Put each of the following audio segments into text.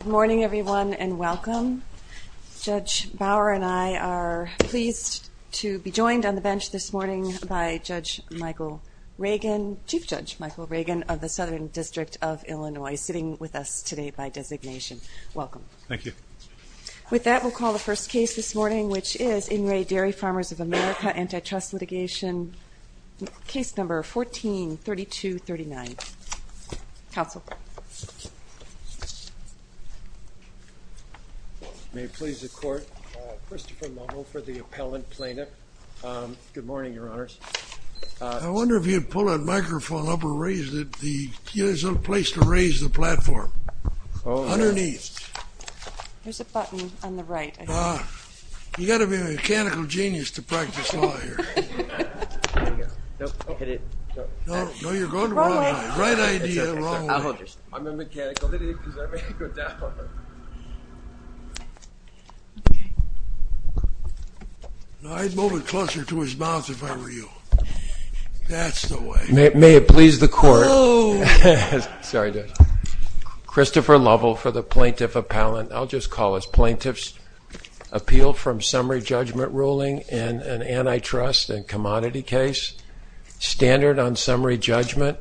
Good morning everyone and welcome. Judge Bauer and I are pleased to be joined on the bench this morning by Judge Michael Reagan, Chief Judge Michael Reagan of the Southern District of Illinois sitting with us today by designation. Welcome. Thank you. With that we'll call the first case this morning which is In Re Dairy May it please the court. Christopher Longo for the appellant plaintiff. Good morning your honors. I wonder if you pull that microphone up or raise it. There's a place to raise the platform. Underneath. There's a button on the right. You got to be a mechanical genius to practice law here. I'd move it closer to his mouth if I were you. That's the way. May it please the court. Christopher Lovell for the plaintiff appellant. I'll just call us plaintiffs appealed from summary judgment ruling and an antitrust and commodity case. Standard on summary judgment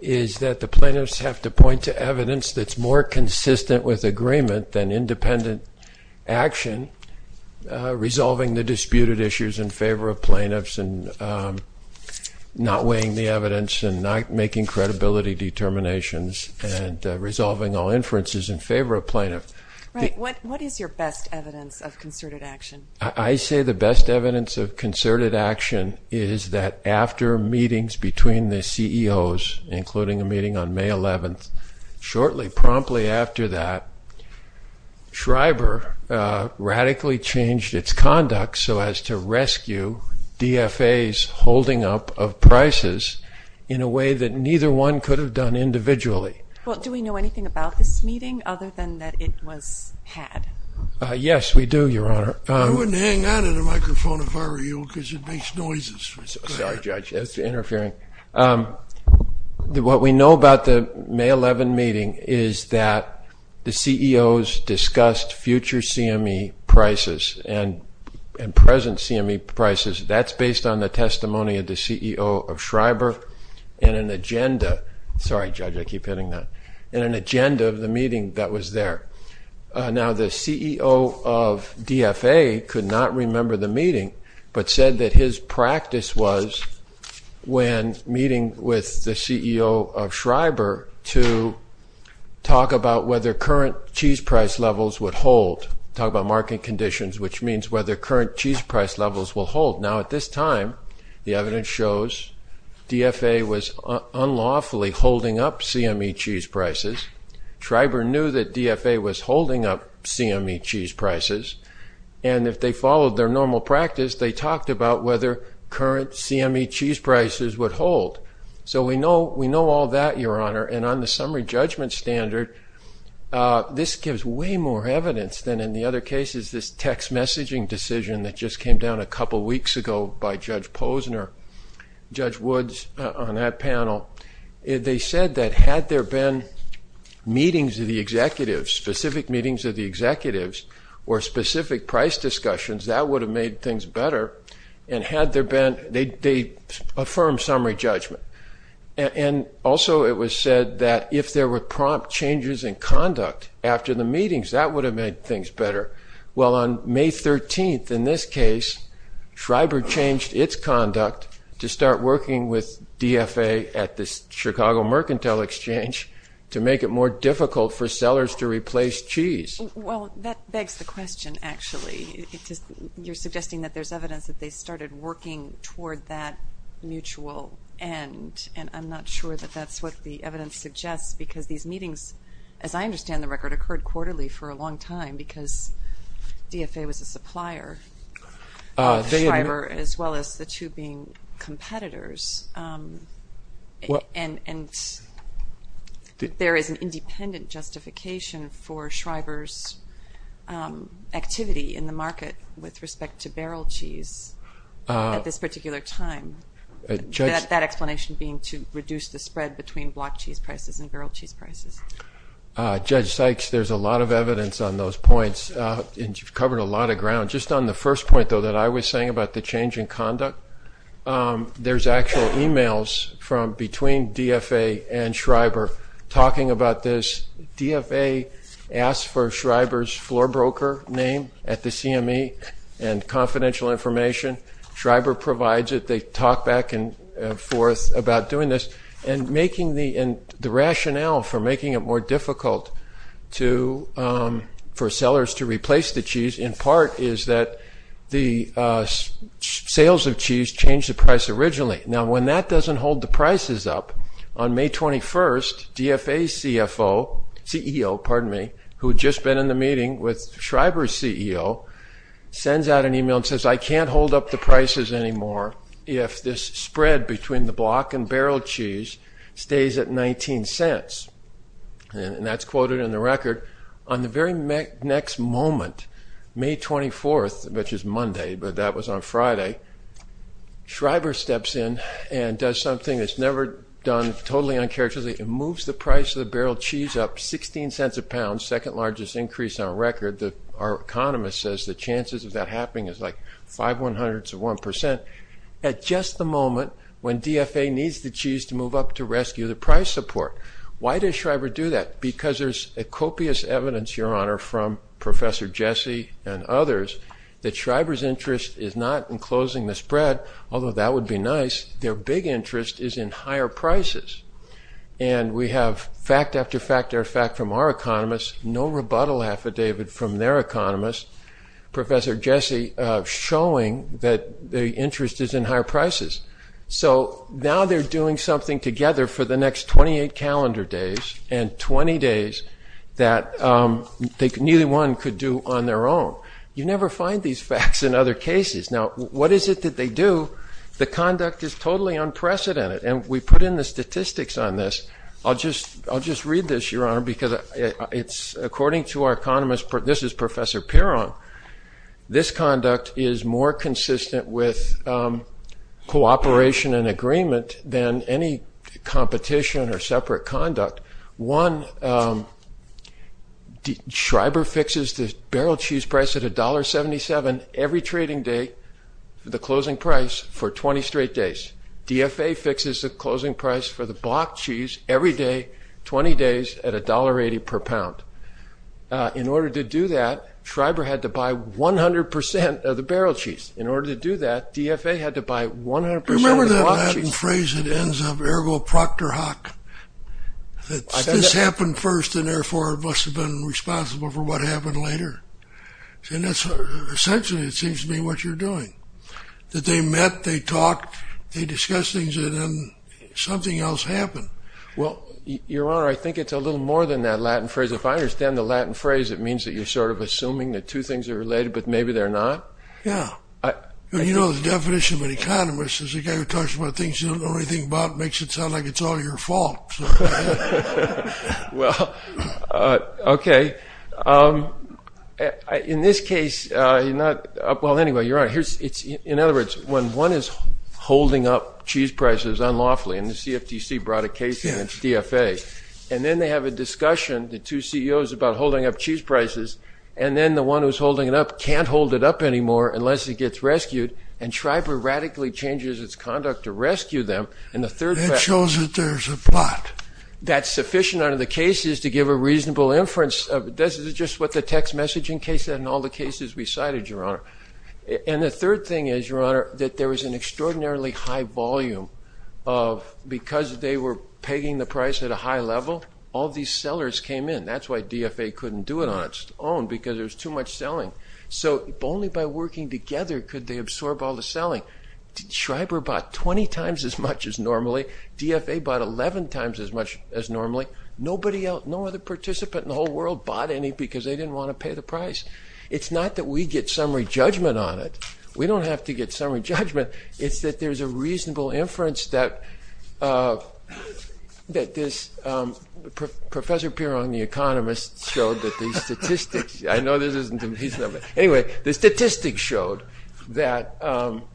is that the plaintiffs have to point to evidence that's more consistent with agreement than independent action. Resolving the disputed issues in favor of plaintiffs and not weighing the evidence and not making credibility determinations and resolving all inferences in favor of plaintiff. What is your best evidence of concerted action? I say the best evidence of concerted action is that after meetings between the CEOs including a meeting on May 11th shortly promptly after that Schreiber radically changed its conduct so as to rescue DFA's holding up of prices in a way that neither one could have done individually. Well do we know anything about this meeting other than that it was had? Yes we do your honor. I wouldn't hang on to the microphone if I were you because it makes noises. Sorry judge, that's interfering. What we know about the May 11 meeting is that the CEOs discussed future CME prices and present CME prices. That's based on the and an agenda of the meeting that was there. Now the CEO of DFA could not remember the meeting but said that his practice was when meeting with the CEO of Schreiber to talk about whether current cheese price levels would hold. Talk about market conditions which means whether current cheese price levels will up CME cheese prices. Schreiber knew that DFA was holding up CME cheese prices and if they followed their normal practice they talked about whether current CME cheese prices would hold. So we know we know all that your honor and on the summary judgment standard this gives way more evidence than in the other cases this text messaging decision that just came down a couple weeks ago by Judge Posner Judge Woods on that panel. They said that had there been meetings of the executives specific meetings of the executives or specific price discussions that would have made things better and had there been they affirm summary judgment and also it was said that if there were prompt changes in conduct after the meetings that would have made things better. Well on May 13th in this start working with DFA at this Chicago Mercantile Exchange to make it more difficult for sellers to replace cheese. Well that begs the question actually it just you're suggesting that there's evidence that they started working toward that mutual and and I'm not sure that that's what the evidence suggests because these meetings as I understand the record occurred quarterly for a long time because DFA was a supplier as well as the two being competitors and and there is an independent justification for Shriver's activity in the market with respect to barrel cheese at this particular time. That explanation being to reduce the spread between block cheese prices and barrel cheese prices. Judge Sykes there's a lot of evidence on those points and you've covered a lot of ground just on the first point though that I was saying about the change in conduct. There's actual emails from between DFA and Shriver talking about this DFA asked for Shriver's floor broker name at the CME and confidential information. Shriver provides it they talk back and forth about doing this and making the and the rationale for making it more difficult to for sellers to replace the cheese in part is that the sales of cheese changed the price originally. Now when that doesn't hold the prices up on May 21st DFA's CFO CEO pardon me who just been in the meeting with Shriver's CEO sends out an email and says I can't hold up the prices anymore if this spread between the block and barrel cheese stays at 19 cents and that's quoted in the record on the very next moment May 24th which is Monday but that was on Friday Shriver steps in and does something that's never done totally uncharacteristically. It moves the price of the barrel cheese up 16 cents a pound second largest increase on record that our economist says the chances of that happening is like five one hundredths of the cheese to move up to rescue the price support. Why does Shriver do that? Because there's a copious evidence your honor from Professor Jesse and others that Shriver's interest is not in closing the spread although that would be nice their big interest is in higher prices and we have fact after fact or fact from our economists no rebuttal affidavit from their economists Professor Jesse showing that the interest is in higher prices so now they're doing something together for the next 28 calendar days and 20 days that neither one could do on their own. You never find these facts in other cases now what is it that they do? The conduct is totally unprecedented and we put in the statistics on this I'll just read this your honor because it's according to our economist, this is Professor Pierron, this conduct is more than any competition or separate conduct. One, Shriver fixes the barrel cheese price at a $1.77 every trading day the closing price for 20 straight days. DFA fixes the closing price for the block cheese every day 20 days at a $1.80 per pound. In order to do that Shriver had to buy 100% of the barrel cheese. There's a certain phrase that ends up ergo proctor hoc that this happened first and therefore it must have been responsible for what happened later and that's essentially it seems to be what you're doing that they met they talked they discussed things and then something else happened. Well your honor I think it's a little more than that Latin phrase if I understand the Latin phrase it means that you're sort of assuming that two things are related but maybe they're not yeah you know the definition of an economist is a guy who talks about things you don't know anything about makes it sound like it's all your fault well okay in this case you're not well anyway you're right here's it's in other words when one is holding up cheese prices unlawfully and the CFTC brought a case in its DFA and then they have a discussion the two CEOs about holding up prices and then the one who's holding it up can't hold it up anymore unless it gets rescued and Shriver radically changes its conduct to rescue them and the third shows that there's a plot that's sufficient out of the cases to give a reasonable inference of this is just what the text messaging case and all the cases we cited your honor and the third thing is your honor that there was an extraordinarily high volume of because they were pegging the price at a level all these sellers came in that's why DFA couldn't do it on its own because there's too much selling so only by working together could they absorb all the selling Schreiber bought 20 times as much as normally DFA bought 11 times as much as normally nobody else no other participant in the whole world bought any because they didn't want to pay the price it's not that we get summary judgment on it we don't have to get summary judgment it's that there's a professor peer on the economists showed that these statistics I know this isn't a piece of it anyway the statistics showed that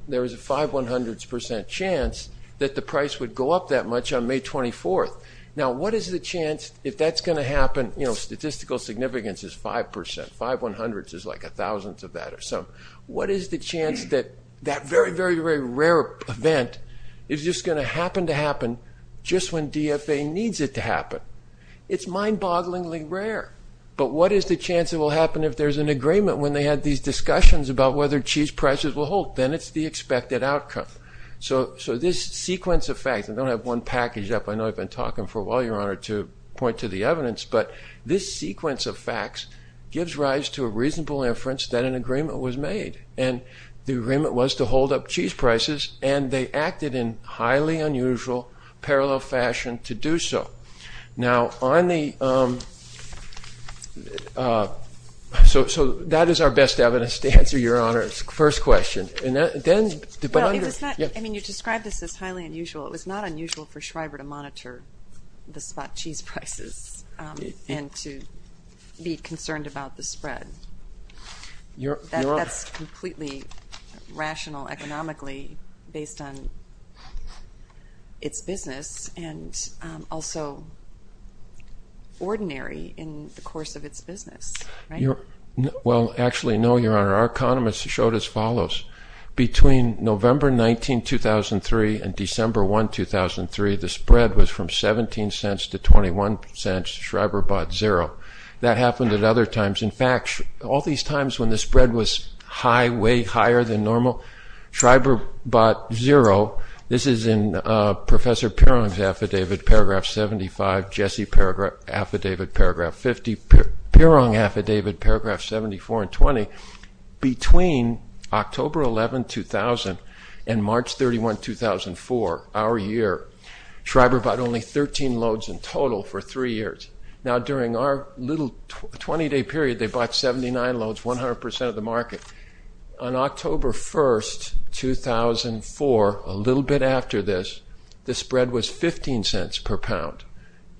there was a five one hundredth percent chance that the price would go up that much on May 24th now what is the chance if that's going to happen you know statistical significance is 5% 5 100 is like a thousandth of that or so what is the chance that that very very very rare event is just going to happen to happen just when DFA needs it to happen it's mind-bogglingly rare but what is the chance it will happen if there's an agreement when they had these discussions about whether cheese prices will hold then it's the expected outcome so so this sequence of facts and don't have one package up I know I've been talking for a while your honor to point to the evidence but this sequence of facts gives rise to a reasonable inference that an agreement was made and the agreement was to hold up cheese and they acted in highly unusual parallel fashion to do so now on the so so that is our best evidence to answer your honor's first question and then I mean you described this as highly unusual it was not unusual for Schreiber to monitor the spot cheese prices and to be concerned about the spread you're completely rational economically based on its business and also ordinary in the course of its business you're well actually no your honor our economists showed as follows between November 19 2003 and December 1 2003 the spread was from 17 cents to 21 cents Schreiber bought zero that happened at other times in fact all these times when the spread was high way higher than normal Schreiber bought zero this is in Professor Pierrong's affidavit paragraph 75 Jesse paragraph affidavit paragraph 50 Pierrong affidavit paragraph 74 and 20 between October 11 2000 and March 31 2004 our year Schreiber bought only 13 loads in total for three years now during our little 20-day period they bought 79 loads 100% of the market on October 1st 2004 a little bit after this the spread was 15 cents per pound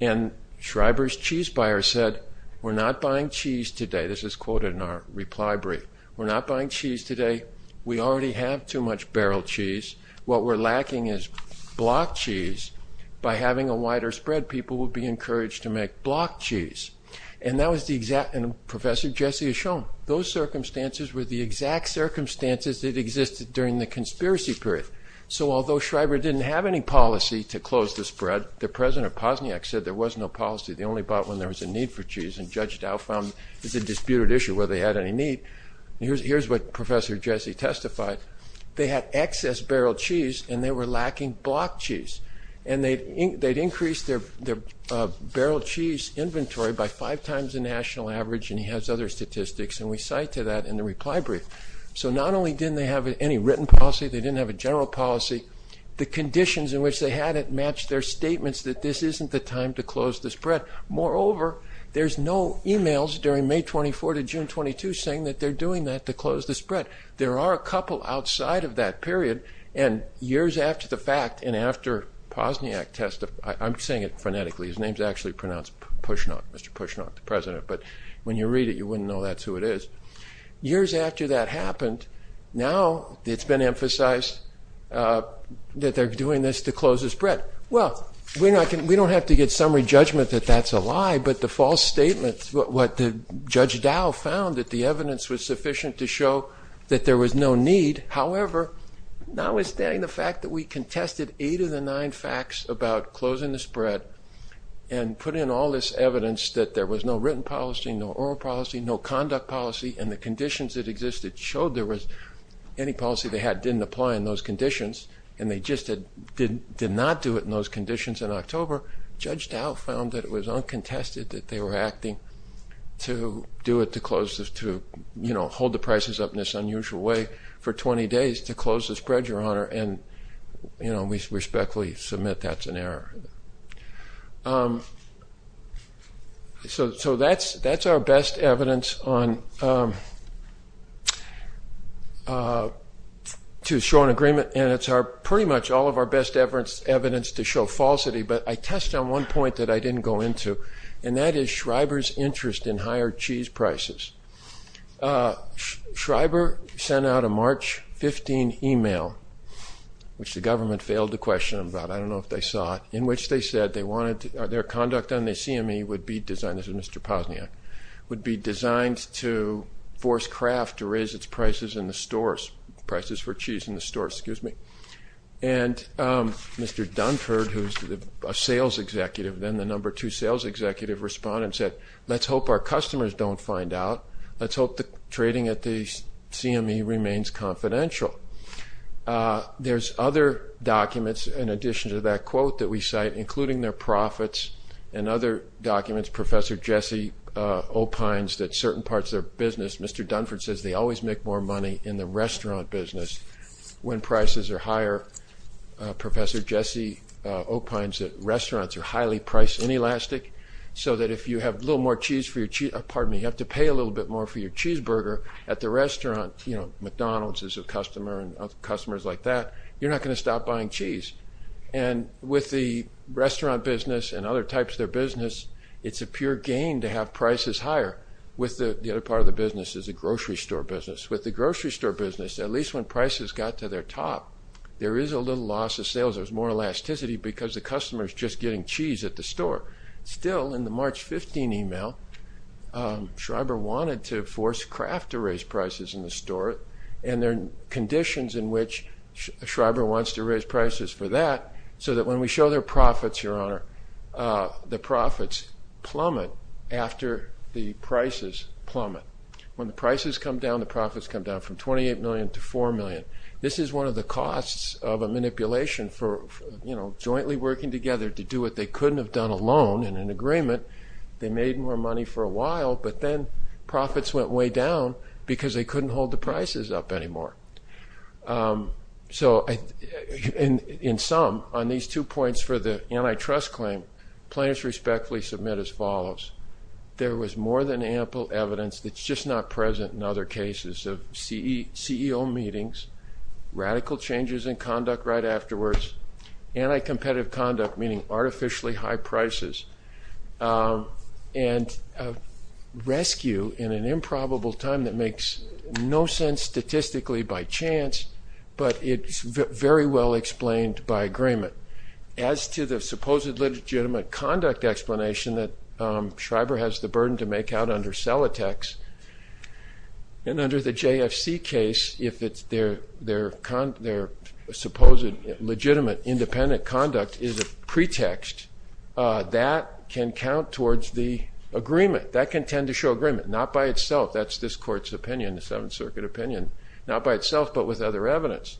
and Schreiber's cheese buyer said we're not buying cheese today this is quoted in our reply brief we're not buying cheese today we already have too much barrel cheese what we're lacking is block cheese by having a wider spread people would be encouraged to make block cheese and that was the exact and Professor Jesse has shown those circumstances were the exact circumstances that existed during the conspiracy period so although Schreiber didn't have any policy to close the spread the president of Pozniak said there was no policy they only bought when there was a need for cheese and Judge Dow found is a disputed issue whether they had any need here's here's what Professor Jesse testified they had excess barrel cheese and they were lacking block cheese and they'd increase their barrel cheese inventory by five times the national average and he has other statistics and we cite to that in the reply brief so not only didn't they have any written policy they didn't have a general policy the conditions in which they had it match their statements that this isn't the time to close the spread moreover there's no emails during May 24 to June 22 saying that they're doing that to and years after the fact and after Pozniak testified I'm saying it phonetically his name's actually pronounced push not mr. push not the president but when you read it you wouldn't know that's who it is years after that happened now it's been emphasized that they're doing this to close the spread well we're not gonna we don't have to get summary judgment that that's a lie but the false statements what the judge Dow found that the the fact that we contested eight of the nine facts about closing the spread and put in all this evidence that there was no written policy no oral policy no conduct policy and the conditions that existed showed there was any policy they had didn't apply in those conditions and they just had didn't did not do it in those conditions in October judge Dow found that it was uncontested that they were acting to do it to close this to you know hold the prices up in this honor and you know we respectfully submit that's an error so so that's that's our best evidence on to show an agreement and it's our pretty much all of our best evidence evidence to show falsity but I test on one point that I didn't go into and that is Shriver's interest in higher cheese prices Shriver sent out a March 15 email which the government failed to question about I don't know if they saw it in which they said they wanted their conduct and they see me would be designed as a mr. Pazniak would be designed to force craft to raise its prices in the stores prices for cheese in the store excuse me and mr. Dunford who's the sales executive then the number two sales executive respond and said let's hope our customers don't find out let's hope the trading at the CME remains confidential there's other documents in addition to that quote that we cite including their profits and other documents professor Jesse opines that certain parts of their business mr. Dunford says they always make more money in the restaurant business when prices are higher professor Jesse opines that restaurants are highly priced in elastic so that if you have a little more cheese for your cheat pardon me you to pay a little bit more for your cheeseburger at the restaurant you know McDonald's is a customer and customers like that you're not going to stop buying cheese and with the restaurant business and other types of their business it's a pure gain to have prices higher with the other part of the business is a grocery store business with the grocery store business at least when prices got to their top there is a little loss of sales there's more elasticity because the customers just getting cheese at the store still in the 15 email Schreiber wanted to force craft to raise prices in the store and their conditions in which Schreiber wants to raise prices for that so that when we show their profits your honor the profits plummet after the prices plummet when the prices come down the profits come down from 28 million to 4 million this is one of the costs of a manipulation for you know jointly working together to do what they couldn't have done alone in an agreement they made more money for a while but then profits went way down because they couldn't hold the prices up anymore so in in some on these two points for the antitrust claim players respectfully submit as follows there was more than ample evidence that's just not present in other cases of CEO meetings radical changes in conduct right afterwards and I competitive conduct meaning artificially high prices and rescue in an improbable time that makes no sense statistically by chance but it's very well explained by agreement as to the supposed legitimate conduct explanation that Schreiber has the burden to make out under sell attacks and under the JFC case if it's their their con their supposed legitimate independent conduct is a pretext that can count towards the agreement that can tend to show agreement not by itself that's this court's opinion the Seventh Circuit opinion not by itself but with other evidence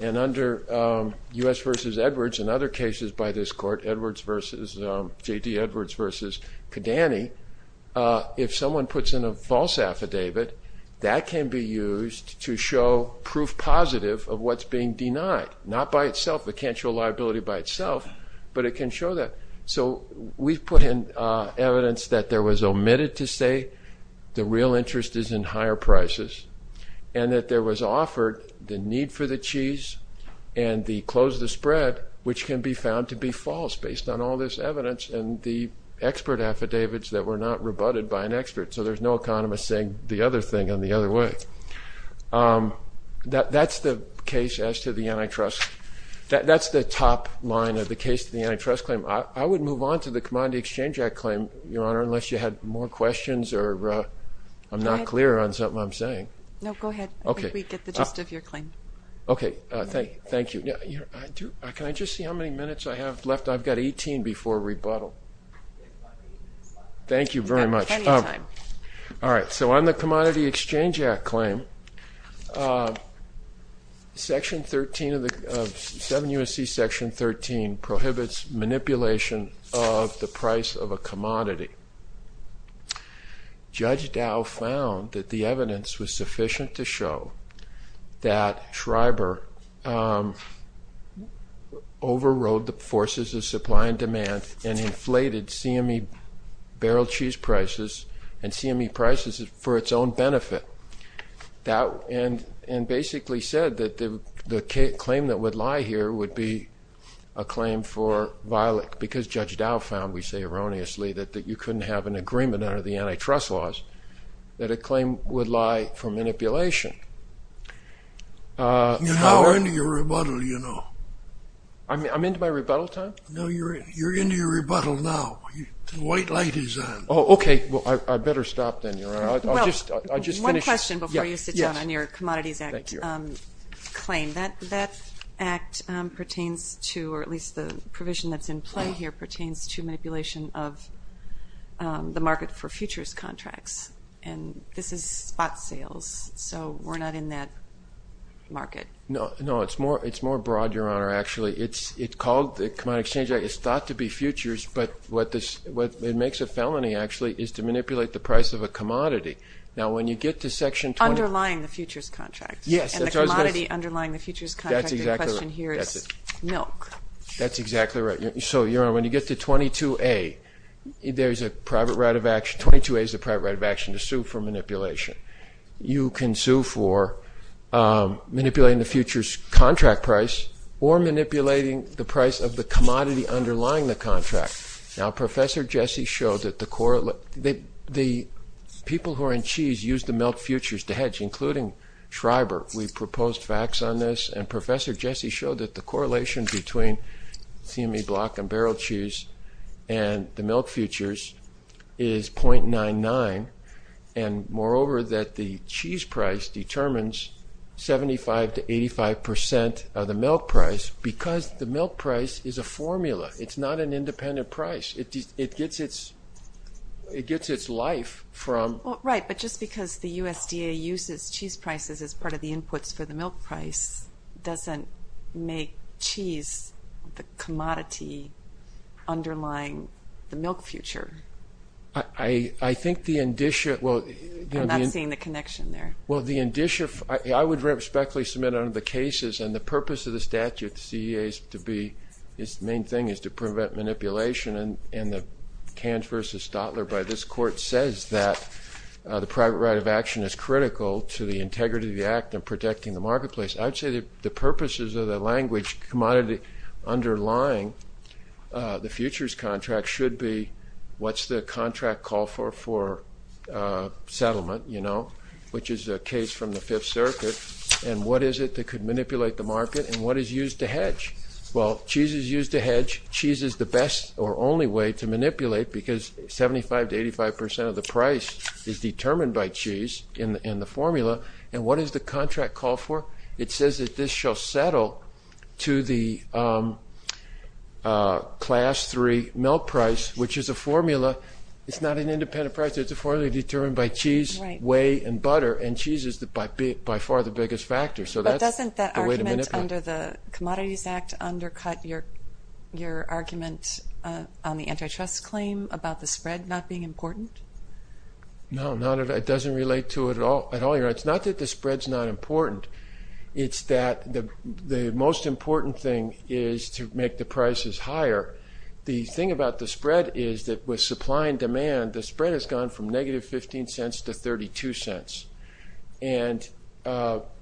and under US versus Edwards in other cases by this court Edwards versus J.D. Edwards versus Kidani if someone puts in a false affidavit that can be used to show proof positive of what's being denied not by itself it can't show liability by itself but it can show that so we've put in evidence that there was omitted to say the real interest is in higher prices and that there was offered the need for the and the close the spread which can be found to be false based on all this evidence and the expert affidavits that were not rebutted by an expert so there's no economist saying the other thing on the other way that that's the case as to the antitrust that that's the top line of the case to the antitrust claim I would move on to the commodity Exchange Act claim your honor unless you had more questions or I'm not clear on something I'm saying no go ahead okay okay thank you yeah I do I can I just see how many minutes I have left I've got 18 before rebuttal thank you very much all right so on the commodity Exchange Act claim section 13 of the 7 USC section 13 prohibits manipulation of the price of a commodity judge Dow found that the evidence was sufficient to show that Schreiber overrode the forces of supply and demand and inflated CME barrel cheese prices and CME prices for its own benefit that and and basically said that the the claim that would lie here would be a claim for violet because judge Dow found we say erroneously that that you couldn't have an agreement under the antitrust laws that a claim would lie for manipulation you're now earning a rebuttal you know I mean I'm into my rebuttal time no you're you're into your rebuttal now white light is on oh okay well I better stop then you're right I'll just I just one question before you sit down on your Commodities Act claim that that act pertains to or at least the provision that's in play here pertains to manipulation of the market for futures contracts and this is spot sales so we're not in that market no no it's more it's more broad your honor actually it's it called the Commodity Exchange Act is thought to be futures but what this what it makes a felony actually is to manipulate the price of a commodity now when you get to section underlying the futures contract yes that's already underlying the futures contract here is milk that's exactly right so your honor when you get to 22a there's a private right of action 22a is the private right of action to sue for manipulation you can sue for manipulating the futures contract price or manipulating the price of the commodity underlying the contract now professor Jesse showed that the correlate that the people who are in cheese use the milk futures to hedge including Schreiber we proposed facts on this and professor Jesse showed that the correlation between CME block and barrel cheese and the milk futures is 0.99 and moreover that the cheese price determines 75 to 85 percent of the milk price because the milk price is a formula it's not an independent price it just it gets its it gets its life from right but just because the USDA uses cheese prices as part of the inputs for the milk price doesn't make cheese the commodity underlying the milk future I I think the indicia well I'm not seeing the connection there well the indicia I would respectfully submit on the cases and the purpose of the statute CEA is to be its main thing is to prevent manipulation and in the cans versus Stotler by this court says that the private right of action is critical to the integrity of the act and protecting the marketplace I'd say the purposes of the language commodity underlying the futures contract should be what's the contract call for for settlement you know which is a case from the Fifth Circuit and what is it that could manipulate the market and what is used to hedge well cheese is used to hedge cheese is the best or only way to manipulate because 75 to 85 percent of the price is determined by cheese in the formula and what is the contract call for it says that this shall settle to the class 3 milk price which is a formula it's not an independent price it's a formally determined by cheese whey and butter and cheese is the by bit by far the biggest factor so that doesn't that argument under the Commodities Act undercut your your argument on the no not it doesn't relate to it at all at all your it's not that the spreads not important it's that the the most important thing is to make the prices higher the thing about the spread is that with supply and demand the spread has gone from negative 15 cents to 32 cents and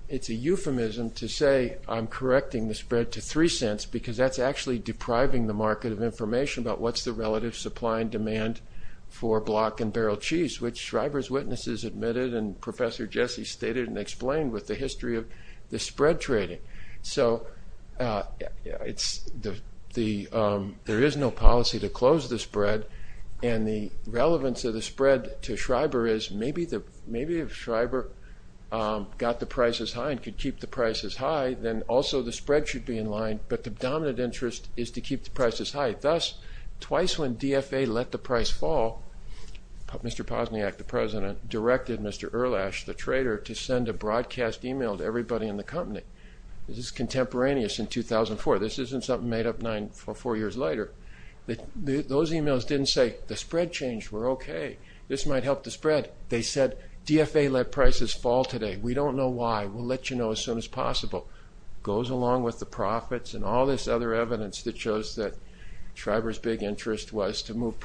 it's a euphemism to say I'm correcting the spread to three cents because that's actually depriving the market of information about what's the relative supply and demand for block and cheese which Schreiber's witnesses admitted and Professor Jesse stated and explained with the history of the spread trading so it's the the there is no policy to close the spread and the relevance of the spread to Schreiber is maybe the maybe if Schreiber got the prices high and could keep the prices high then also the spread should be in line but the dominant interest is to directed Mr. Erlash the trader to send a broadcast email to everybody in the company this is contemporaneous in 2004 this isn't something made up nine or four years later that those emails didn't say the spread change we're okay this might help the spread they said DFA let prices fall today we don't know why we'll let you know as soon as possible goes along with the profits and all this other evidence that shows that Schreiber's big interest was to move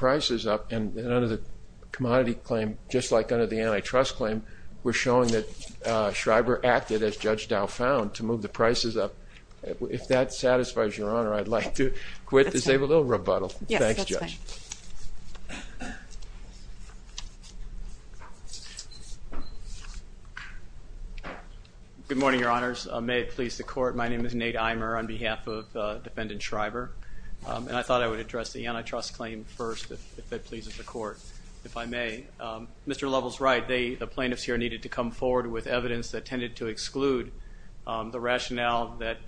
just like under the antitrust claim we're showing that Schreiber acted as judge Dow found to move the prices up if that satisfies your honor I'd like to quit this a little rebuttal thanks judge good morning your honors may it please the court my name is Nate Eimer on behalf of defendant Schreiber and I thought I would address the antitrust claim first if that pleases the court if I may Mr. Lovell's right they the plaintiffs here needed to come forward with evidence that tended to exclude the rationale that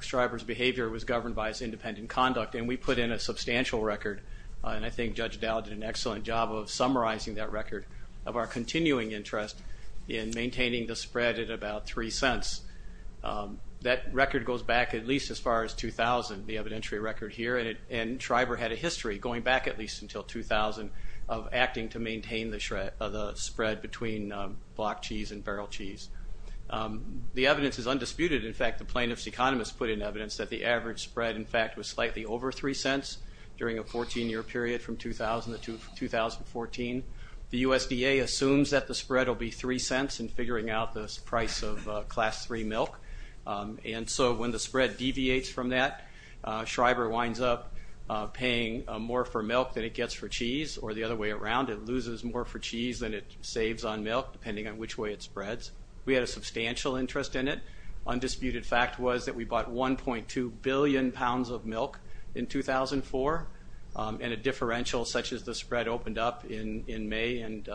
Schreiber's behavior was governed by his independent conduct and we put in a substantial record and I think judge Dow did an excellent job of summarizing that record of our continuing interest in maintaining the spread at about three cents that record goes back at least as far as 2000 the evidentiary record here and Schreiber had a history going back at least until 2000 of acting to maintain the shred of the spread between block cheese and barrel cheese the evidence is undisputed in fact the plaintiffs economists put in evidence that the average spread in fact was slightly over three cents during a 14 year period from 2000 to 2014 the USDA assumes that the spread will be three cents and figuring out this price of class 3 milk and so when the spread deviates from that Schreiber winds up paying more for milk than it gets for cheese or the other way around it loses more for cheese than it saves on milk depending on which way it spreads we had a substantial interest in it undisputed fact was that we bought 1.2 billion pounds of milk in 2004 and a differential such as the spread opened up in in May and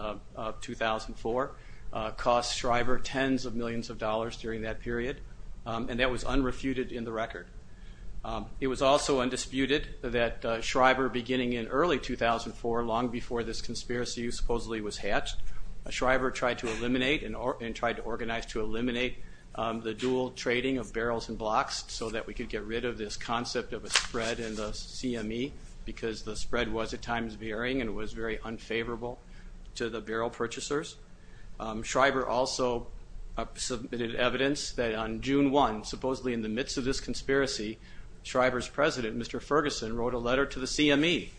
2004 cost Schreiber tens of millions of dollars during that period and that was unrefuted in the record it was also undisputed that Schreiber beginning in early 2004 long before this conspiracy supposedly was hatched a Schreiber tried to eliminate and or and tried to organize to eliminate the dual trading of barrels and blocks so that we could get rid of this concept of a spread and the CME because the spread was at times varying and it was very unfavorable to the barrel purchasers Schreiber also submitted evidence that on June 1 supposedly in the midst of this conspiracy Schreiber's president Mr. Ferguson wrote a letter to the CME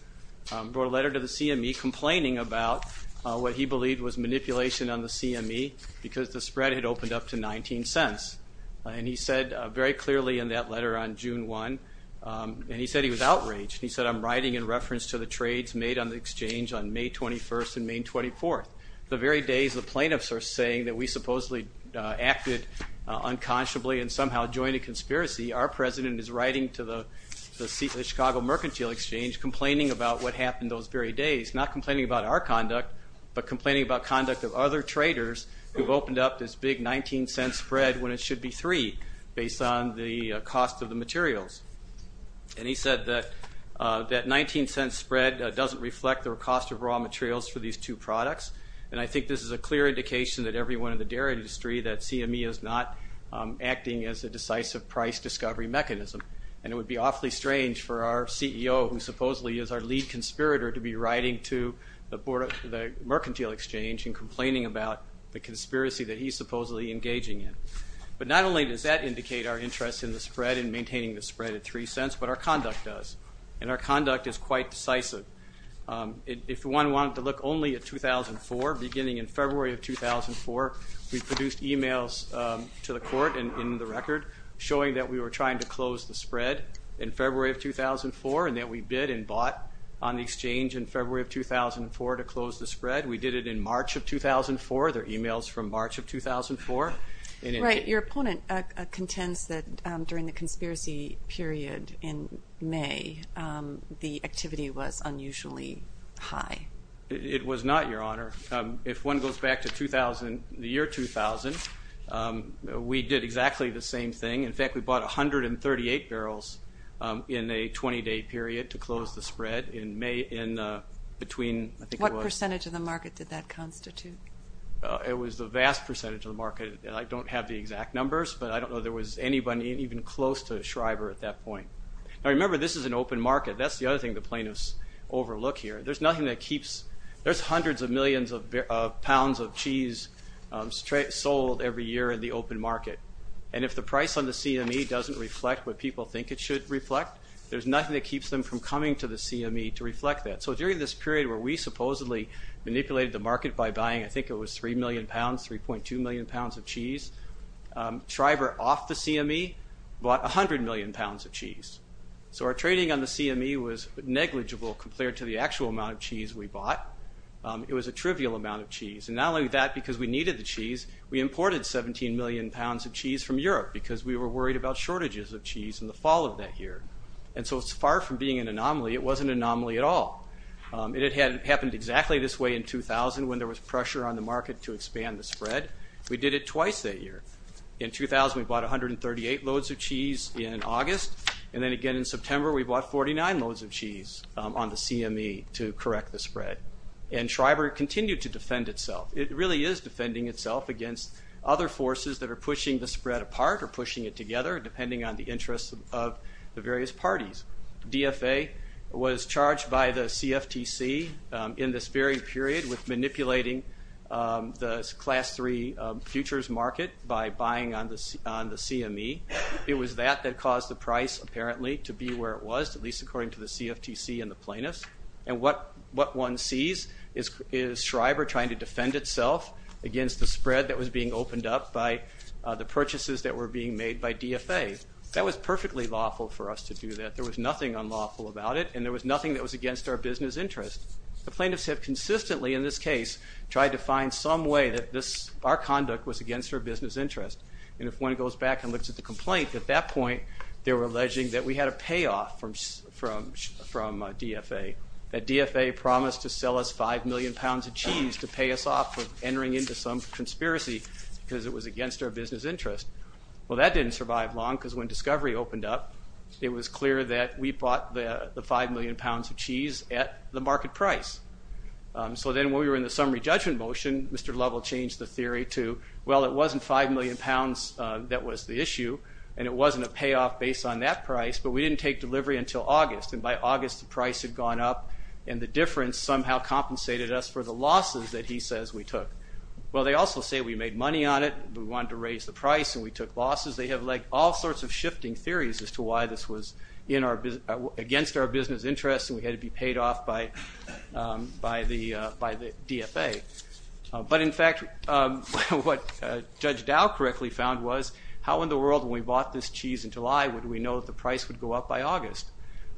brought a letter to the CME complaining about what he believed was manipulation on the CME because the spread had opened up to 19 cents and he said very clearly in that letter on June 1 and he said he was outraged he said I'm writing in reference to the trades made on the exchange on May 21st and May 24th the very days the plaintiffs are saying that we supposedly acted unconsciously and somehow joined a conspiracy our president is writing to the Chicago Mercantile Exchange complaining about what happened those very days not complaining about our conduct but complaining about conduct of other traders who've opened up this big 19 cent spread when it should be three based on the cost of the materials and he said that that 19 cent spread doesn't reflect the cost of raw materials for these two products and I think this is a clear indication that everyone in the dairy industry that CME is not acting as a decisive price discovery mechanism and it would be awfully strange for our CEO who supposedly is our lead conspirator to be writing to the board of the Mercantile Exchange and complaining about the conspiracy that he's supposedly engaging in but not only does that indicate our interest in the spread and maintaining the spread at three cents but our conduct does and our conduct is quite decisive if one wanted to look only at 2004 beginning in February of 2004 we produced emails to the court and in the record showing that we were trying to close the spread in February of 2004 and that we bid and bought on the exchange in February of 2004 to close the spread we did it in March of 2004 their emails from March of 2004 and your opponent contends that during the conspiracy period in May the activity was unusually high it was not your honor if one goes back to 2000 the year 2000 we did exactly the same thing in fact we bought 138 barrels in a 20 day period to close the spread in May in between I think what percentage of the market did that constitute it was the vast percentage of the market and I don't have the exact numbers but I don't know there was anybody even close to Shriver at that point I remember this is an open market that's the other thing the plaintiffs overlook here there's nothing that keeps there's hundreds of millions of pounds of cheese straight sold every year in the open market and if the price on the CME doesn't reflect what people think it should reflect there's nothing that keeps them from coming to the CME to reflect that so during this period where we supposedly manipulated the market by buying I think it was 3 million pounds 3.2 million pounds of cheese Shriver off the CME bought a hundred million pounds of cheese so our trading on the CME was negligible compared to the actual amount of cheese we bought it was a trivial amount of cheese and not only that because we needed the cheese we imported 17 million pounds of cheese from Europe because we were worried about shortages of cheese in the fall of that year and so it's far from being an anomaly it wasn't anomaly at all it had happened exactly this way in 2000 when there was pressure on the market to expand the spread we did it twice that year. In 2000 we bought 138 loads of cheese in August and then again in September we bought 49 loads of cheese on the CME to correct the spread and Shriver continued to defend itself it really is defending itself against other forces that are pushing the spread apart or pushing it together depending on the interests of the various parties. DFA was charged by the CFTC in this very period with manipulating the class 3 futures market by buying on the CME. It was that that caused the price apparently to be where it was at least according to the CFTC and the plaintiffs and what one sees is Shriver trying to defend itself against the spread that was being opened up by the purchases that were being made by DFA. That was perfectly lawful for us to do that there was nothing unlawful about it and there was nothing that was against our business interest. The plaintiffs have consistently in this case tried to find some way that this our conduct was against our business interest and if one goes back and looks at the complaint at that point they were alleging that we had a payoff from DFA. That DFA promised to sell us five million pounds of cheese to pay us off with entering into some conspiracy because it was against our business interest. Well that didn't survive long because when discovery opened up it was clear that we bought the five million pounds of cheese at the market price. So then when we were in the summary judgment motion Mr. Lovell changed the theory to well it wasn't five million pounds that was the issue and it wasn't a payoff based on that price but we didn't take delivery until August and by August the price had gone up and the difference somehow compensated us for the losses that he says we took. Well they also say we made money on it we wanted to raise the price and we took losses they have like all sorts of shifting theories as to why this was in our business against our business interest and we had to be paid off by the DFA. But in fact what Judge Dow correctly found was how in the world when we bought this cheese in July would we know the price would go up by August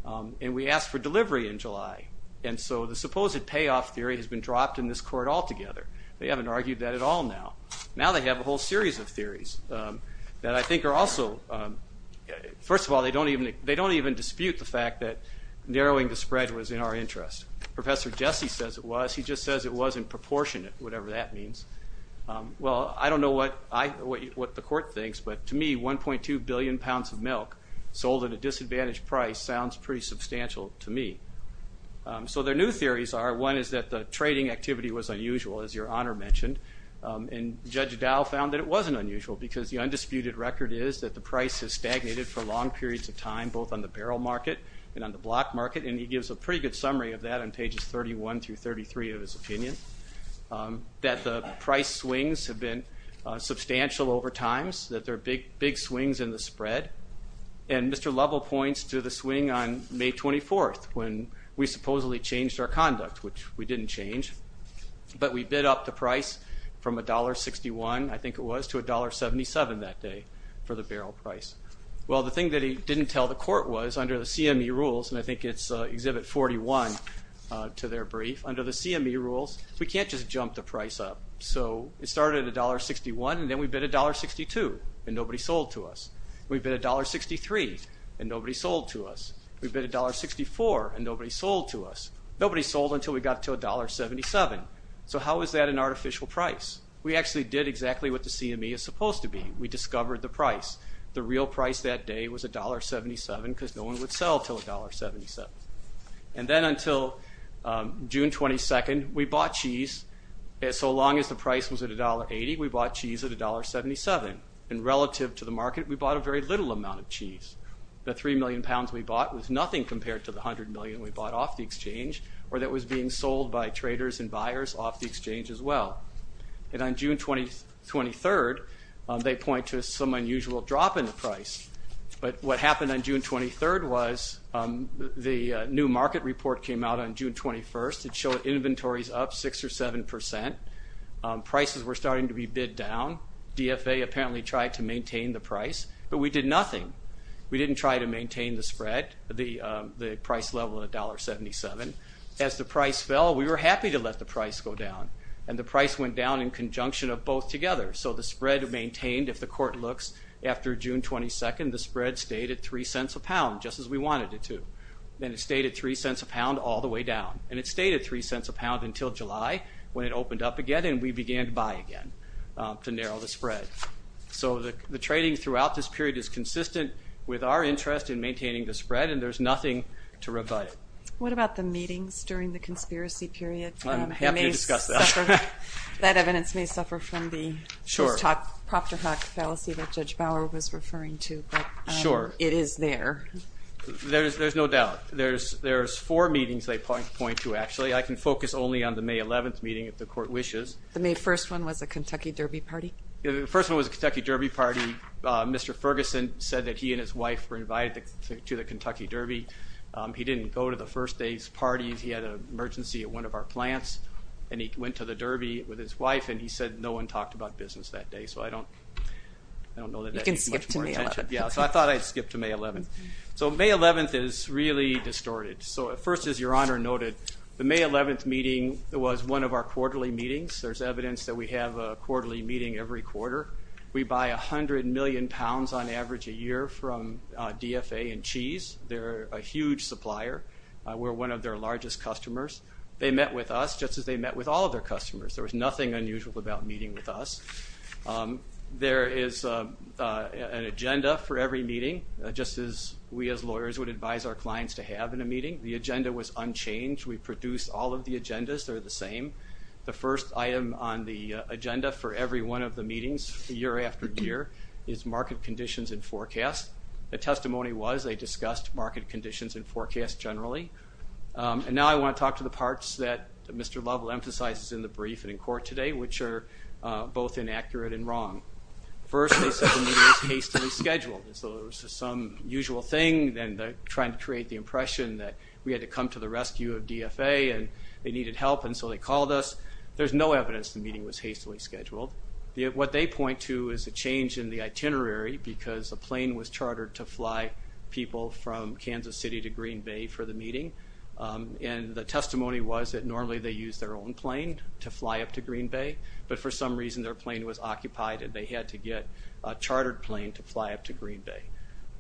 and we asked for delivery in July and so the supposed payoff theory has been dropped in this court altogether. They haven't argued that at all now. Now they have a whole series of theories that I think are also, first of all they don't even they don't even dispute the narrowing the spread was in our interest. Professor Jesse says it was he just says it wasn't proportionate whatever that means. Well I don't know what the court thinks but to me 1.2 billion pounds of milk sold at a disadvantaged price sounds pretty substantial to me. So their new theories are one is that the trading activity was unusual as your Honor mentioned and Judge Dow found that it wasn't unusual because the undisputed record is that the price has stagnated for long periods of time both on the barrel market and on the block market and he gives a pretty good summary of that on pages 31 through 33 of his opinion. That the price swings have been substantial over times that they're big big swings in the spread and Mr. Lovell points to the swing on May 24th when we supposedly changed our conduct which we didn't change but we bid up the price from $1.61 I think it was to $1.77 that day for the barrel price. Well the thing that he didn't tell the court was under the CME rules and I think it's exhibit 41 to their brief under the CME rules we can't just jump the price up. So it started at a $1.61 and then we bid a $1.62 and nobody sold to us. We bid a $1.63 and nobody sold to us. We bid a $1.64 and nobody sold to us. Nobody sold until we got to a $1.77. So how is that an artificial price? We actually did exactly what the CME is supposed to be. We discovered the price. The real price that day was a $1.77 because no one would sell till a $1.77. And then until June 22nd we bought cheese and so long as the price was at a $1.80 we bought cheese at a $1.77 and relative to the market we bought a very little amount of cheese. The three million pounds we bought was nothing compared to the hundred million we bought off the exchange or that was being sold by traders and buyers off the exchange as well. And on June 23rd they point to some unusual drop in the price. But what happened on June 23rd was the new market report came out on June 21st. It showed inventories up six or seven percent. Prices were starting to be bid down. DFA apparently tried to maintain the price but we did nothing. We didn't try to maintain the spread, the the price level of $1.77. As the price fell we were happy to let the price go down. And the price went down in conjunction of both together. So the spread maintained if the court looks after June 22nd the spread stayed at three cents a pound just as we wanted it to. Then it stayed at three cents a pound all the way down. And it stayed at three cents a pound until July when it opened up again and we began to buy again to narrow the spread. So the trading throughout this period is consistent with our interest in maintaining the spread and there's nothing to rebut it. What about the meetings during the That evidence may suffer from the propter hock fallacy that Judge Bauer was referring to. But it is there. There's no doubt. There's four meetings they point to actually. I can focus only on the May 11th meeting if the court wishes. The May 1st one was a Kentucky Derby party? The first one was a Kentucky Derby party. Mr. Ferguson said that he and his wife were invited to the Kentucky Derby. He didn't go to the first day's parties. He had an emergency at one of our plants and he went to the Derby with his wife and he said no one talked about business that day. So I don't know. You can skip to May 11th. Yeah so I thought I'd skip to May 11th. So May 11th is really distorted. So at first as your Honor noted, the May 11th meeting was one of our quarterly meetings. There's evidence that we have a quarterly meeting every quarter. We buy a hundred million pounds on average a year from DFA and cheese. They're a huge supplier. We're one of their largest customers. They met with us just as they met with all of their customers. There was nothing unusual about meeting with us. There is an agenda for every meeting just as we as lawyers would advise our clients to have in a meeting. The agenda was unchanged. We produced all of the agendas. They're the same. The first item on the agenda for every one of the meetings year after year is market conditions and forecast. The testimony was they discussed market conditions and forecast generally. And now I want to talk to the parts that Mr. Lovell emphasizes in the brief and in court today which are both inaccurate and wrong. First they said the meeting was hastily scheduled. So it was just some usual thing then trying to create the impression that we had to come to the rescue of DFA and they needed help and so they called us. There's no evidence the meeting was hastily scheduled. What they point to is a change in the itinerary because the Kansas City to Green Bay for the meeting and the testimony was that normally they use their own plane to fly up to Green Bay but for some reason their plane was occupied and they had to get a chartered plane to fly up to Green Bay.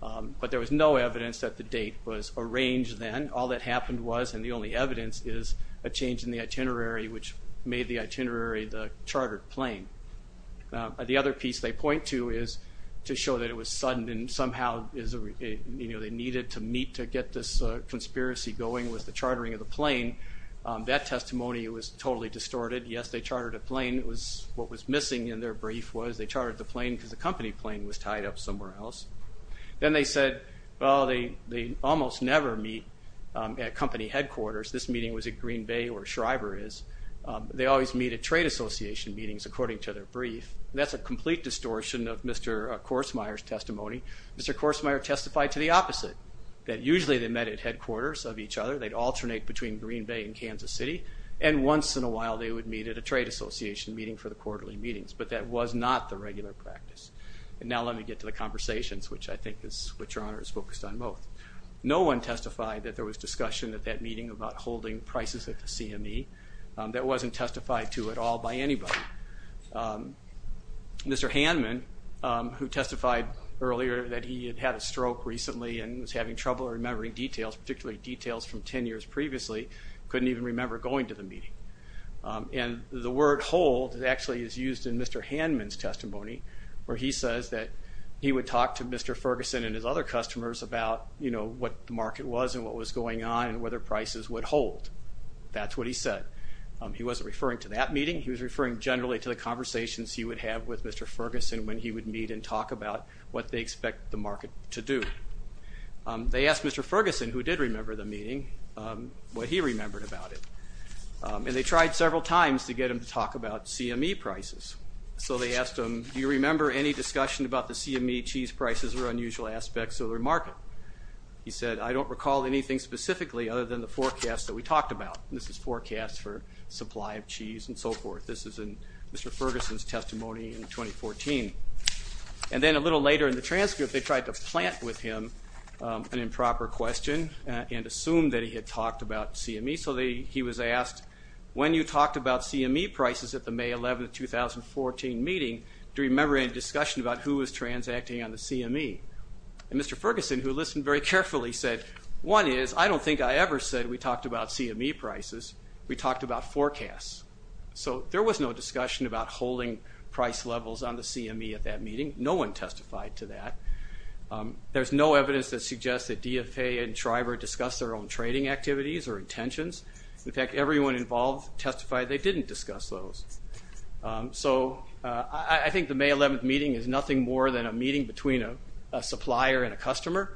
But there was no evidence that the date was arranged then. All that happened was and the only evidence is a change in the itinerary which made the itinerary the chartered plane. The other piece they point to is to show that it was sudden and somehow they needed to meet to get this conspiracy going was the chartering of the plane. That testimony was totally distorted. Yes they chartered a plane. It was what was missing in their brief was they chartered the plane because the company plane was tied up somewhere else. Then they said well they almost never meet at company headquarters. This meeting was at Green Bay or Shriver is. They always meet at trade association meetings according to their brief. That's a complete distortion of Mr. Korsmeier's testimony. Mr. Korsmeier testified to the opposite. That usually they met at headquarters of each other. They'd alternate between Green Bay and Kansas City and once in a while they would meet at a trade association meeting for the quarterly meetings. But that was not the regular practice. And now let me get to the conversations which I think is what your honor is focused on both. No one testified that there was discussion at that meeting about holding prices at the CME. That wasn't testified to at all by anybody. Mr. Hanman who testified earlier that he had had a stroke recently and was having trouble remembering details, particularly details from ten years previously, couldn't even remember going to the meeting. And the word hold actually is used in Mr. Hanman's testimony where he says that he would talk to Mr. Ferguson and his other customers about you know what the market was and what was going on and whether prices would hold. That's what he said. He wasn't referring to that meeting. He was referring generally to the conversations he would have with Mr. Ferguson when he would meet and talk about what they expect the market to do. They asked Mr. Ferguson, who did remember the meeting, what he remembered about it. And they tried several times to get him to talk about CME prices. So they asked him, do you remember any discussion about the CME cheese prices or unusual aspects of the market? He said, I don't recall anything specifically other than the forecast that we talked about. This is forecast for supply of cheese and so forth. This is in Mr. Ferguson's testimony in 2014. And then a little later in the transcript they tried to plant with him an improper question and assumed that he had talked about CME. So he was asked, when you talked about CME prices at the May 11, 2014 meeting, do you remember any discussion about who was and Mr. Ferguson, who listened very carefully, said, one is, I don't think I ever said we talked about CME prices. We talked about forecasts. So there was no discussion about holding price levels on the CME at that meeting. No one testified to that. There's no evidence that suggests that DFA and Schreiber discussed their own trading activities or intentions. In fact, everyone involved testified they didn't discuss those. So I think the May 11th meeting is nothing more than a meeting between a supplier and a customer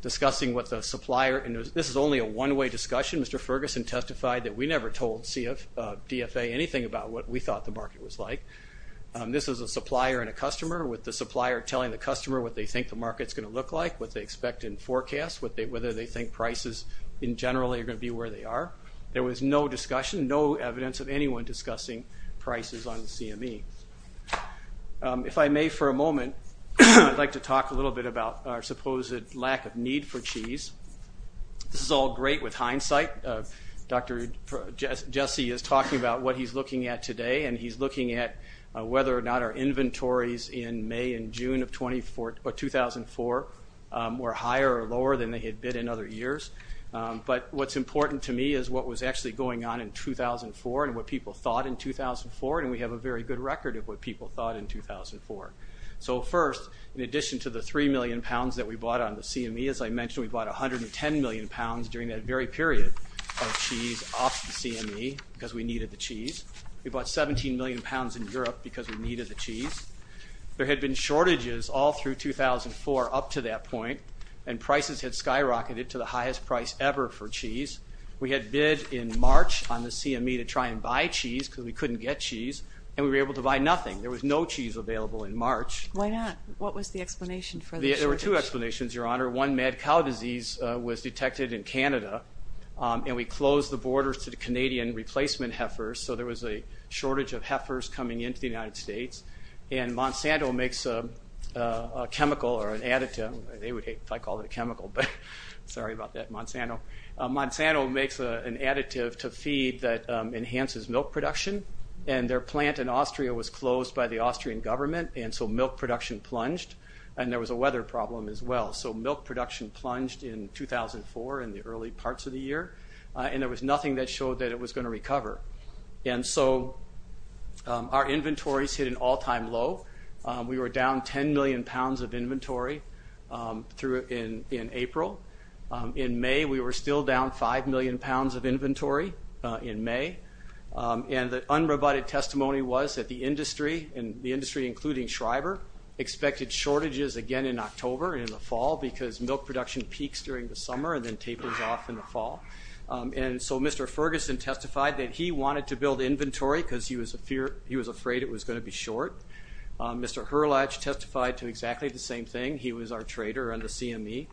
discussing what the supplier, and this is only a one-way discussion, Mr. Ferguson testified that we never told DFA anything about what we thought the market was like. This is a supplier and a customer with the supplier telling the customer what they think the market's going to look like, what they expect in forecast, whether they think prices in general are going to be where they are. There was no discussion, no evidence of anyone discussing prices on the CME. If I may for a moment, I'd like to talk a little bit about our supposed lack of need for cheese. This is all great with hindsight. Dr. Jesse is talking about what he's looking at today, and he's looking at whether or not our inventories in May and June of 2004 were higher or lower than they had been in other years. But what's important to me is what was actually going on in 2004 and what people thought in 2004, and we have a very good record of what people thought in 2004. So first, in addition to the three million pounds that we bought on the CME, as I mentioned we bought a hundred and ten million pounds during that very period of cheese off the CME because we needed the cheese. We bought seventeen million pounds in Europe because we needed the cheese. There had been shortages all through 2004 up to that point, and prices had skyrocketed to the highest price ever for cheese. We had bid in March on the CME to try and buy cheese because we couldn't get cheese, and we were able to buy nothing. There was no cheese available in March. Why not? What was the explanation for the shortage? There were two explanations, Your Honor. One, mad cow disease was detected in Canada, and we closed the borders to the Canadian replacement heifers, so there was a shortage of heifers coming into the United States. And Monsanto makes a chemical or an additive, they would hate if I called it a chemical, but sorry about that Monsanto. Monsanto makes an additive to feed that enhances milk production, and their plant in Austria was closed by the Austrian government, and so milk production plunged, and there was a weather problem as well. So milk production plunged in 2004 in the early parts of the year, and there was nothing that showed that it was going to recover. And so our inventories hit an all-time low. We were down ten million pounds of inventory in April. In May we were still down five million pounds of inventory in May, and the unroboted testimony was that the industry, and the industry including Schreiber, expected shortages again in October and in the fall, because milk production peaks during the summer and then tapers off in the fall. And so Mr. Ferguson testified that he wanted to build inventory because he was a fear, he was afraid it was going to be short. Mr. Herlatch testified to exactly the same thing. He was our trader on the CME.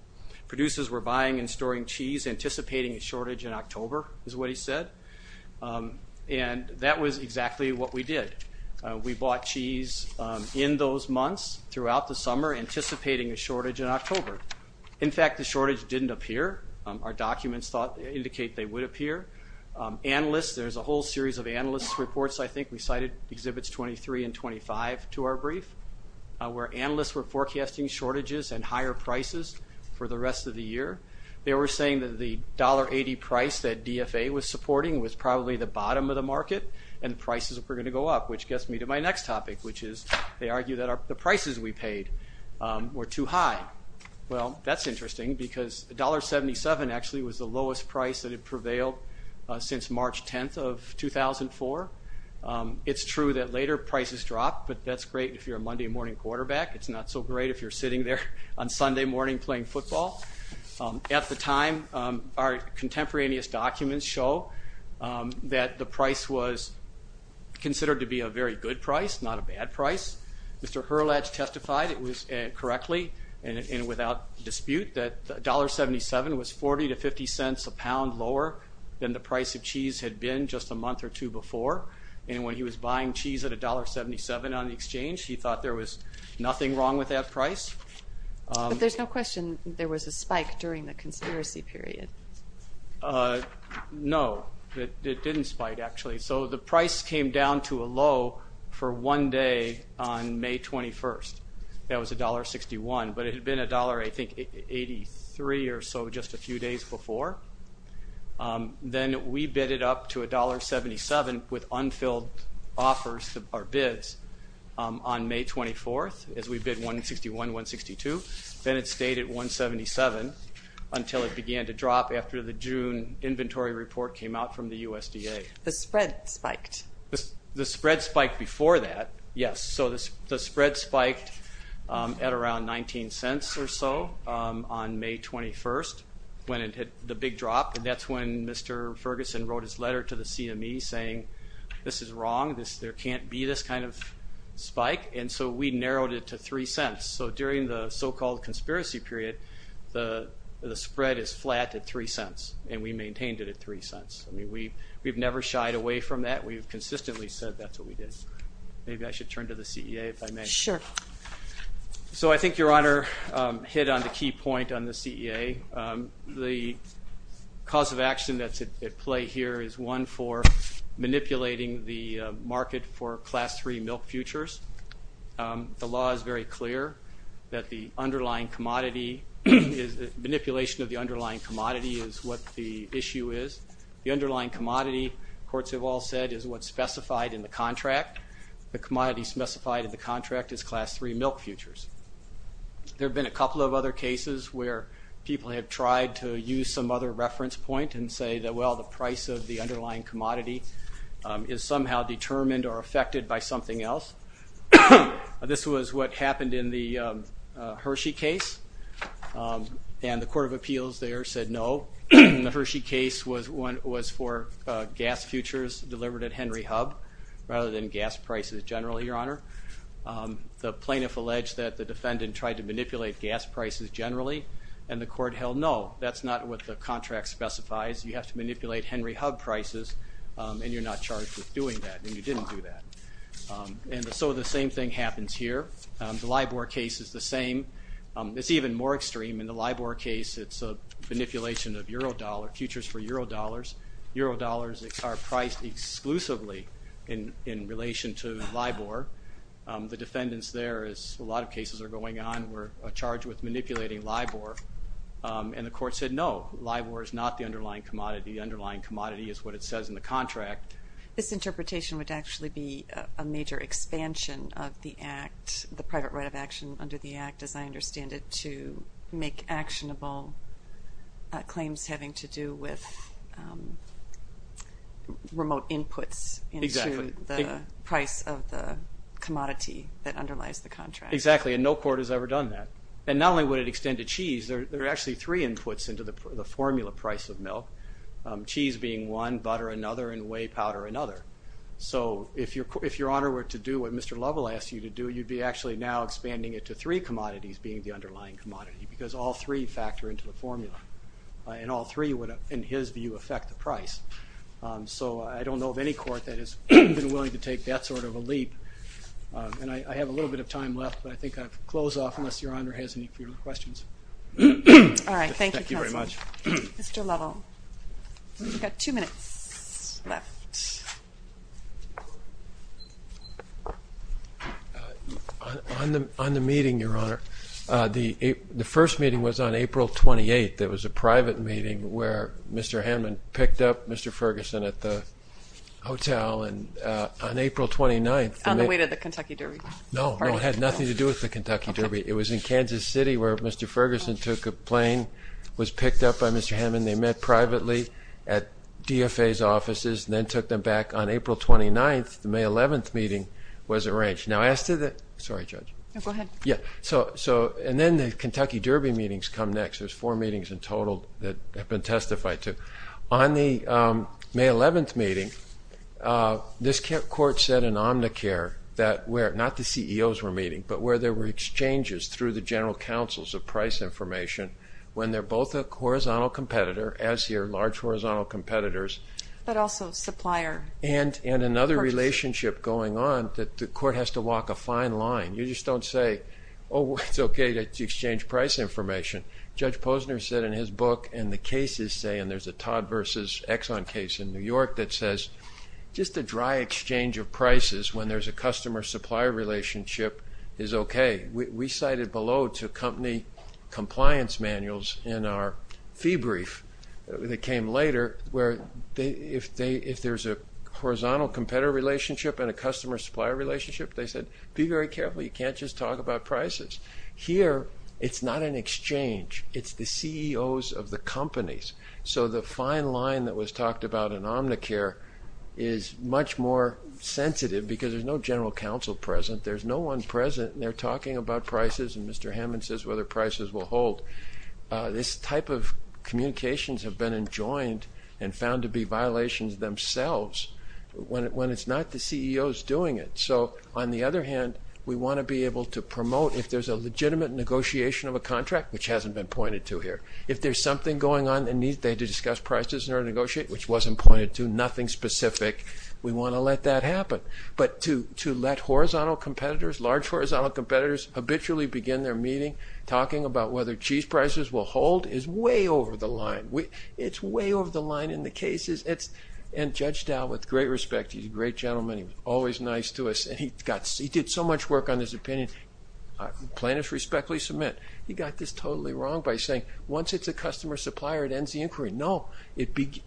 Producers were buying and storing cheese, anticipating a shortage in October, is what he said, and that was exactly what we did. We bought cheese in those months throughout the summer, anticipating a shortage in October. In fact, the shortage didn't appear. Our documents indicate they would appear. Analysts, there's a whole series of analysts reports, I think we cited exhibits 23 and 25 to our brief, where analysts were saying that the dollar 80 price that DFA was supporting was probably the bottom of the market and prices were going to go up, which gets me to my next topic, which is they argue that the prices we paid were too high. Well, that's interesting because $1.77 actually was the lowest price that had prevailed since March 10th of 2004. It's true that later prices drop, but that's great if you're a Monday morning quarterback. It's not so great if you're sitting there on Sunday morning playing football. At the time, our contemporaneous documents show that the price was considered to be a very good price, not a bad price. Mr. Herlatch testified, it was correctly and without dispute, that $1.77 was 40 to 50 cents a pound lower than the price of cheese had been just a month or two before, and when he was buying cheese at $1.77 on the price. But there's no question there was a spike during the conspiracy period. No, it didn't spike actually. So the price came down to a low for one day on May 21st. That was $1.61, but it had been $1.83 or so just a few days before. Then we bidded up to $1.77 with unfilled offers, or bids, on May 24th as we bid $1.61, $1.62. Then it stayed at $1.77 until it began to drop after the June inventory report came out from the USDA. The spread spiked? The spread spiked before that, yes. So the spread spiked at around 19 cents or so on May 21st when it hit the big drop, and that's when Mr. Ferguson wrote his letter to the CME saying this is wrong, there can't be this kind of spike, and so we bid at three cents. So during the so-called conspiracy period, the spread is flat at three cents, and we maintained it at three cents. I mean we've never shied away from that, we've consistently said that's what we did. Maybe I should turn to the CEA if I may. Sure. So I think your Honor hit on the key point on the CEA. The cause of action that's at play here is one for manipulating the market for clear that the underlying commodity is, manipulation of the underlying commodity is what the issue is. The underlying commodity, courts have all said, is what's specified in the contract. The commodity specified in the contract is Class III milk futures. There have been a couple of other cases where people have tried to use some other reference point and say that well the price of the underlying commodity is somehow determined or affected by something else. This was what happened in the Hershey case, and the Court of Appeals there said no. The Hershey case was for gas futures delivered at Henry Hub rather than gas prices generally, your Honor. The plaintiff alleged that the defendant tried to manipulate gas prices generally, and the court held no. That's not what the contract specifies, you have to manipulate Henry Hub prices and you're not charged with doing that, and you didn't do that. And so the same thing happens here. The LIBOR case is the same. It's even more extreme. In the LIBOR case it's a manipulation of euro dollar, futures for euro dollars. Euro dollars are priced exclusively in relation to LIBOR. The defendants there, as a lot of cases are going on, were charged with manipulating LIBOR, and the court said no. LIBOR is not the underlying commodity. The underlying commodity is what it says in the contract. This interpretation would actually be a major expansion of the Act, the private right of action under the Act, as I understand it, to make actionable claims having to do with remote inputs into the price of the commodity that underlies the contract. Exactly, and no court has ever done that. And not only would it extend to cheese, there are actually three inputs into the formula price of milk. Cheese being one, butter another, and whey powder another. So if your Honor were to do what Mr. Lovell asked you to do, you'd be actually now expanding it to three commodities being the underlying commodity, because all three factor into the formula, and all three would, in his view, affect the price. So I don't know of any court that has been willing to take that sort of a leap, and I have a little bit of time left, but I think I'll close off unless your Honor has any further questions. All right, thank you very much. Mr. Lovell, you've got two minutes left. On the meeting, your Honor, the first meeting was on April 28th. It was a private meeting where Mr. Hanman picked up Mr. Ferguson at the hotel, and on April 29th... On the way to the Kentucky Derby. No, no, it had nothing to do with the Kentucky Derby. It was in Kansas City where Mr. Ferguson took a plane, was picked up by Mr. Hanman, they met privately at DFA's offices, and then took them back. On April 29th, the May 11th meeting was arranged. Now, as to the... Sorry, Judge. Go ahead. Yeah, so, and then the Kentucky Derby meetings come next. There's four meetings in total that have been testified to. On the May 11th meeting, this court said in Omnicare that where, not the CEOs were meeting, but where there were exchanges through the general counsels of price information, when they're both a horizontal competitor, as here, large horizontal competitors... But also supplier... And another relationship going on that the court has to walk a fine line. You just don't say, oh, it's okay to exchange price information. Judge Posner said in his book, and the cases say, and there's a Todd versus Exxon case in New York that says, just a dry exchange of prices when there's a customer-supplier relationship is okay. We cited below to company compliance manuals in our fee brief that came later, where if there's a horizontal competitor relationship and a customer-supplier relationship, they said, be very careful. You can't just talk about prices. Here, it's not an exchange. It's the CEOs of the companies. So, the fine line that was talked about in Omnicare is much more sensitive, because there's no general counsel present. There's no one present, and they're talking about prices, and Mr. Hammond says whether prices will hold. This type of communications have been enjoined and found to be violations themselves, when it's not the CEOs doing it. So, on the other hand, we want to be able to promote, if there's a legitimate negotiation of a contract, which hasn't been pointed to here, if there's something going on and they need to discuss prices in order to negotiate, which wasn't pointed to, nothing specific, we But to let horizontal competitors, large horizontal competitors, habitually begin their meeting talking about whether cheese prices will hold is way over the line. It's way over the line in the cases. And Judge Dow, with great respect, he's a great gentleman. He was always nice to us, and he did so much work on his opinion. Plaintiffs respectfully submit. He got this totally wrong by saying, once it's a customer-supplier, it ends the inquiry. No,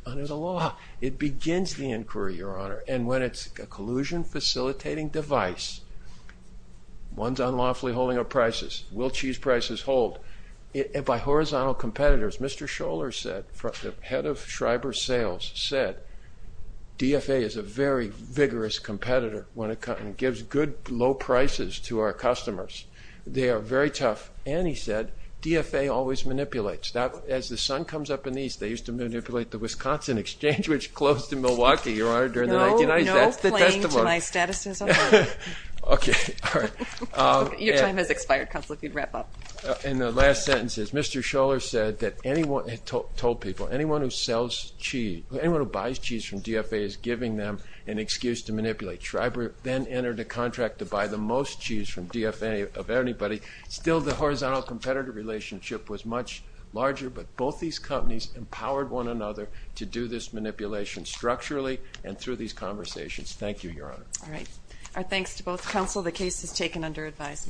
under the law, it begins the inquiry, Your Honor, and when it's a delusion-facilitating device, one's unlawfully holding up prices. Will cheese prices hold? By horizontal competitors, Mr. Scholler said, the head of Schreiber Sales said, DFA is a very vigorous competitor when it gives good, low prices to our customers. They are very tough. And he said, DFA always manipulates. As the sun comes up in the East, they used to manipulate the Wisconsin Exchange, which closed in Milwaukee, Your Honor, during the 1990s. No playing to my status as a lawyer. Okay, all right. Your time has expired, Counselor, if you'd wrap up. And the last sentence is, Mr. Scholler said that anyone, told people, anyone who sells cheese, anyone who buys cheese from DFA is giving them an excuse to manipulate. Schreiber then entered a contract to buy the most cheese from DFA of anybody. Still, the horizontal competitor relationship was much larger, but both these companies empowered one another to do this manipulation structurally and through these conversations. Thank you, Your Honor. All right. Our thanks to both counsel. The case is taken under advisement.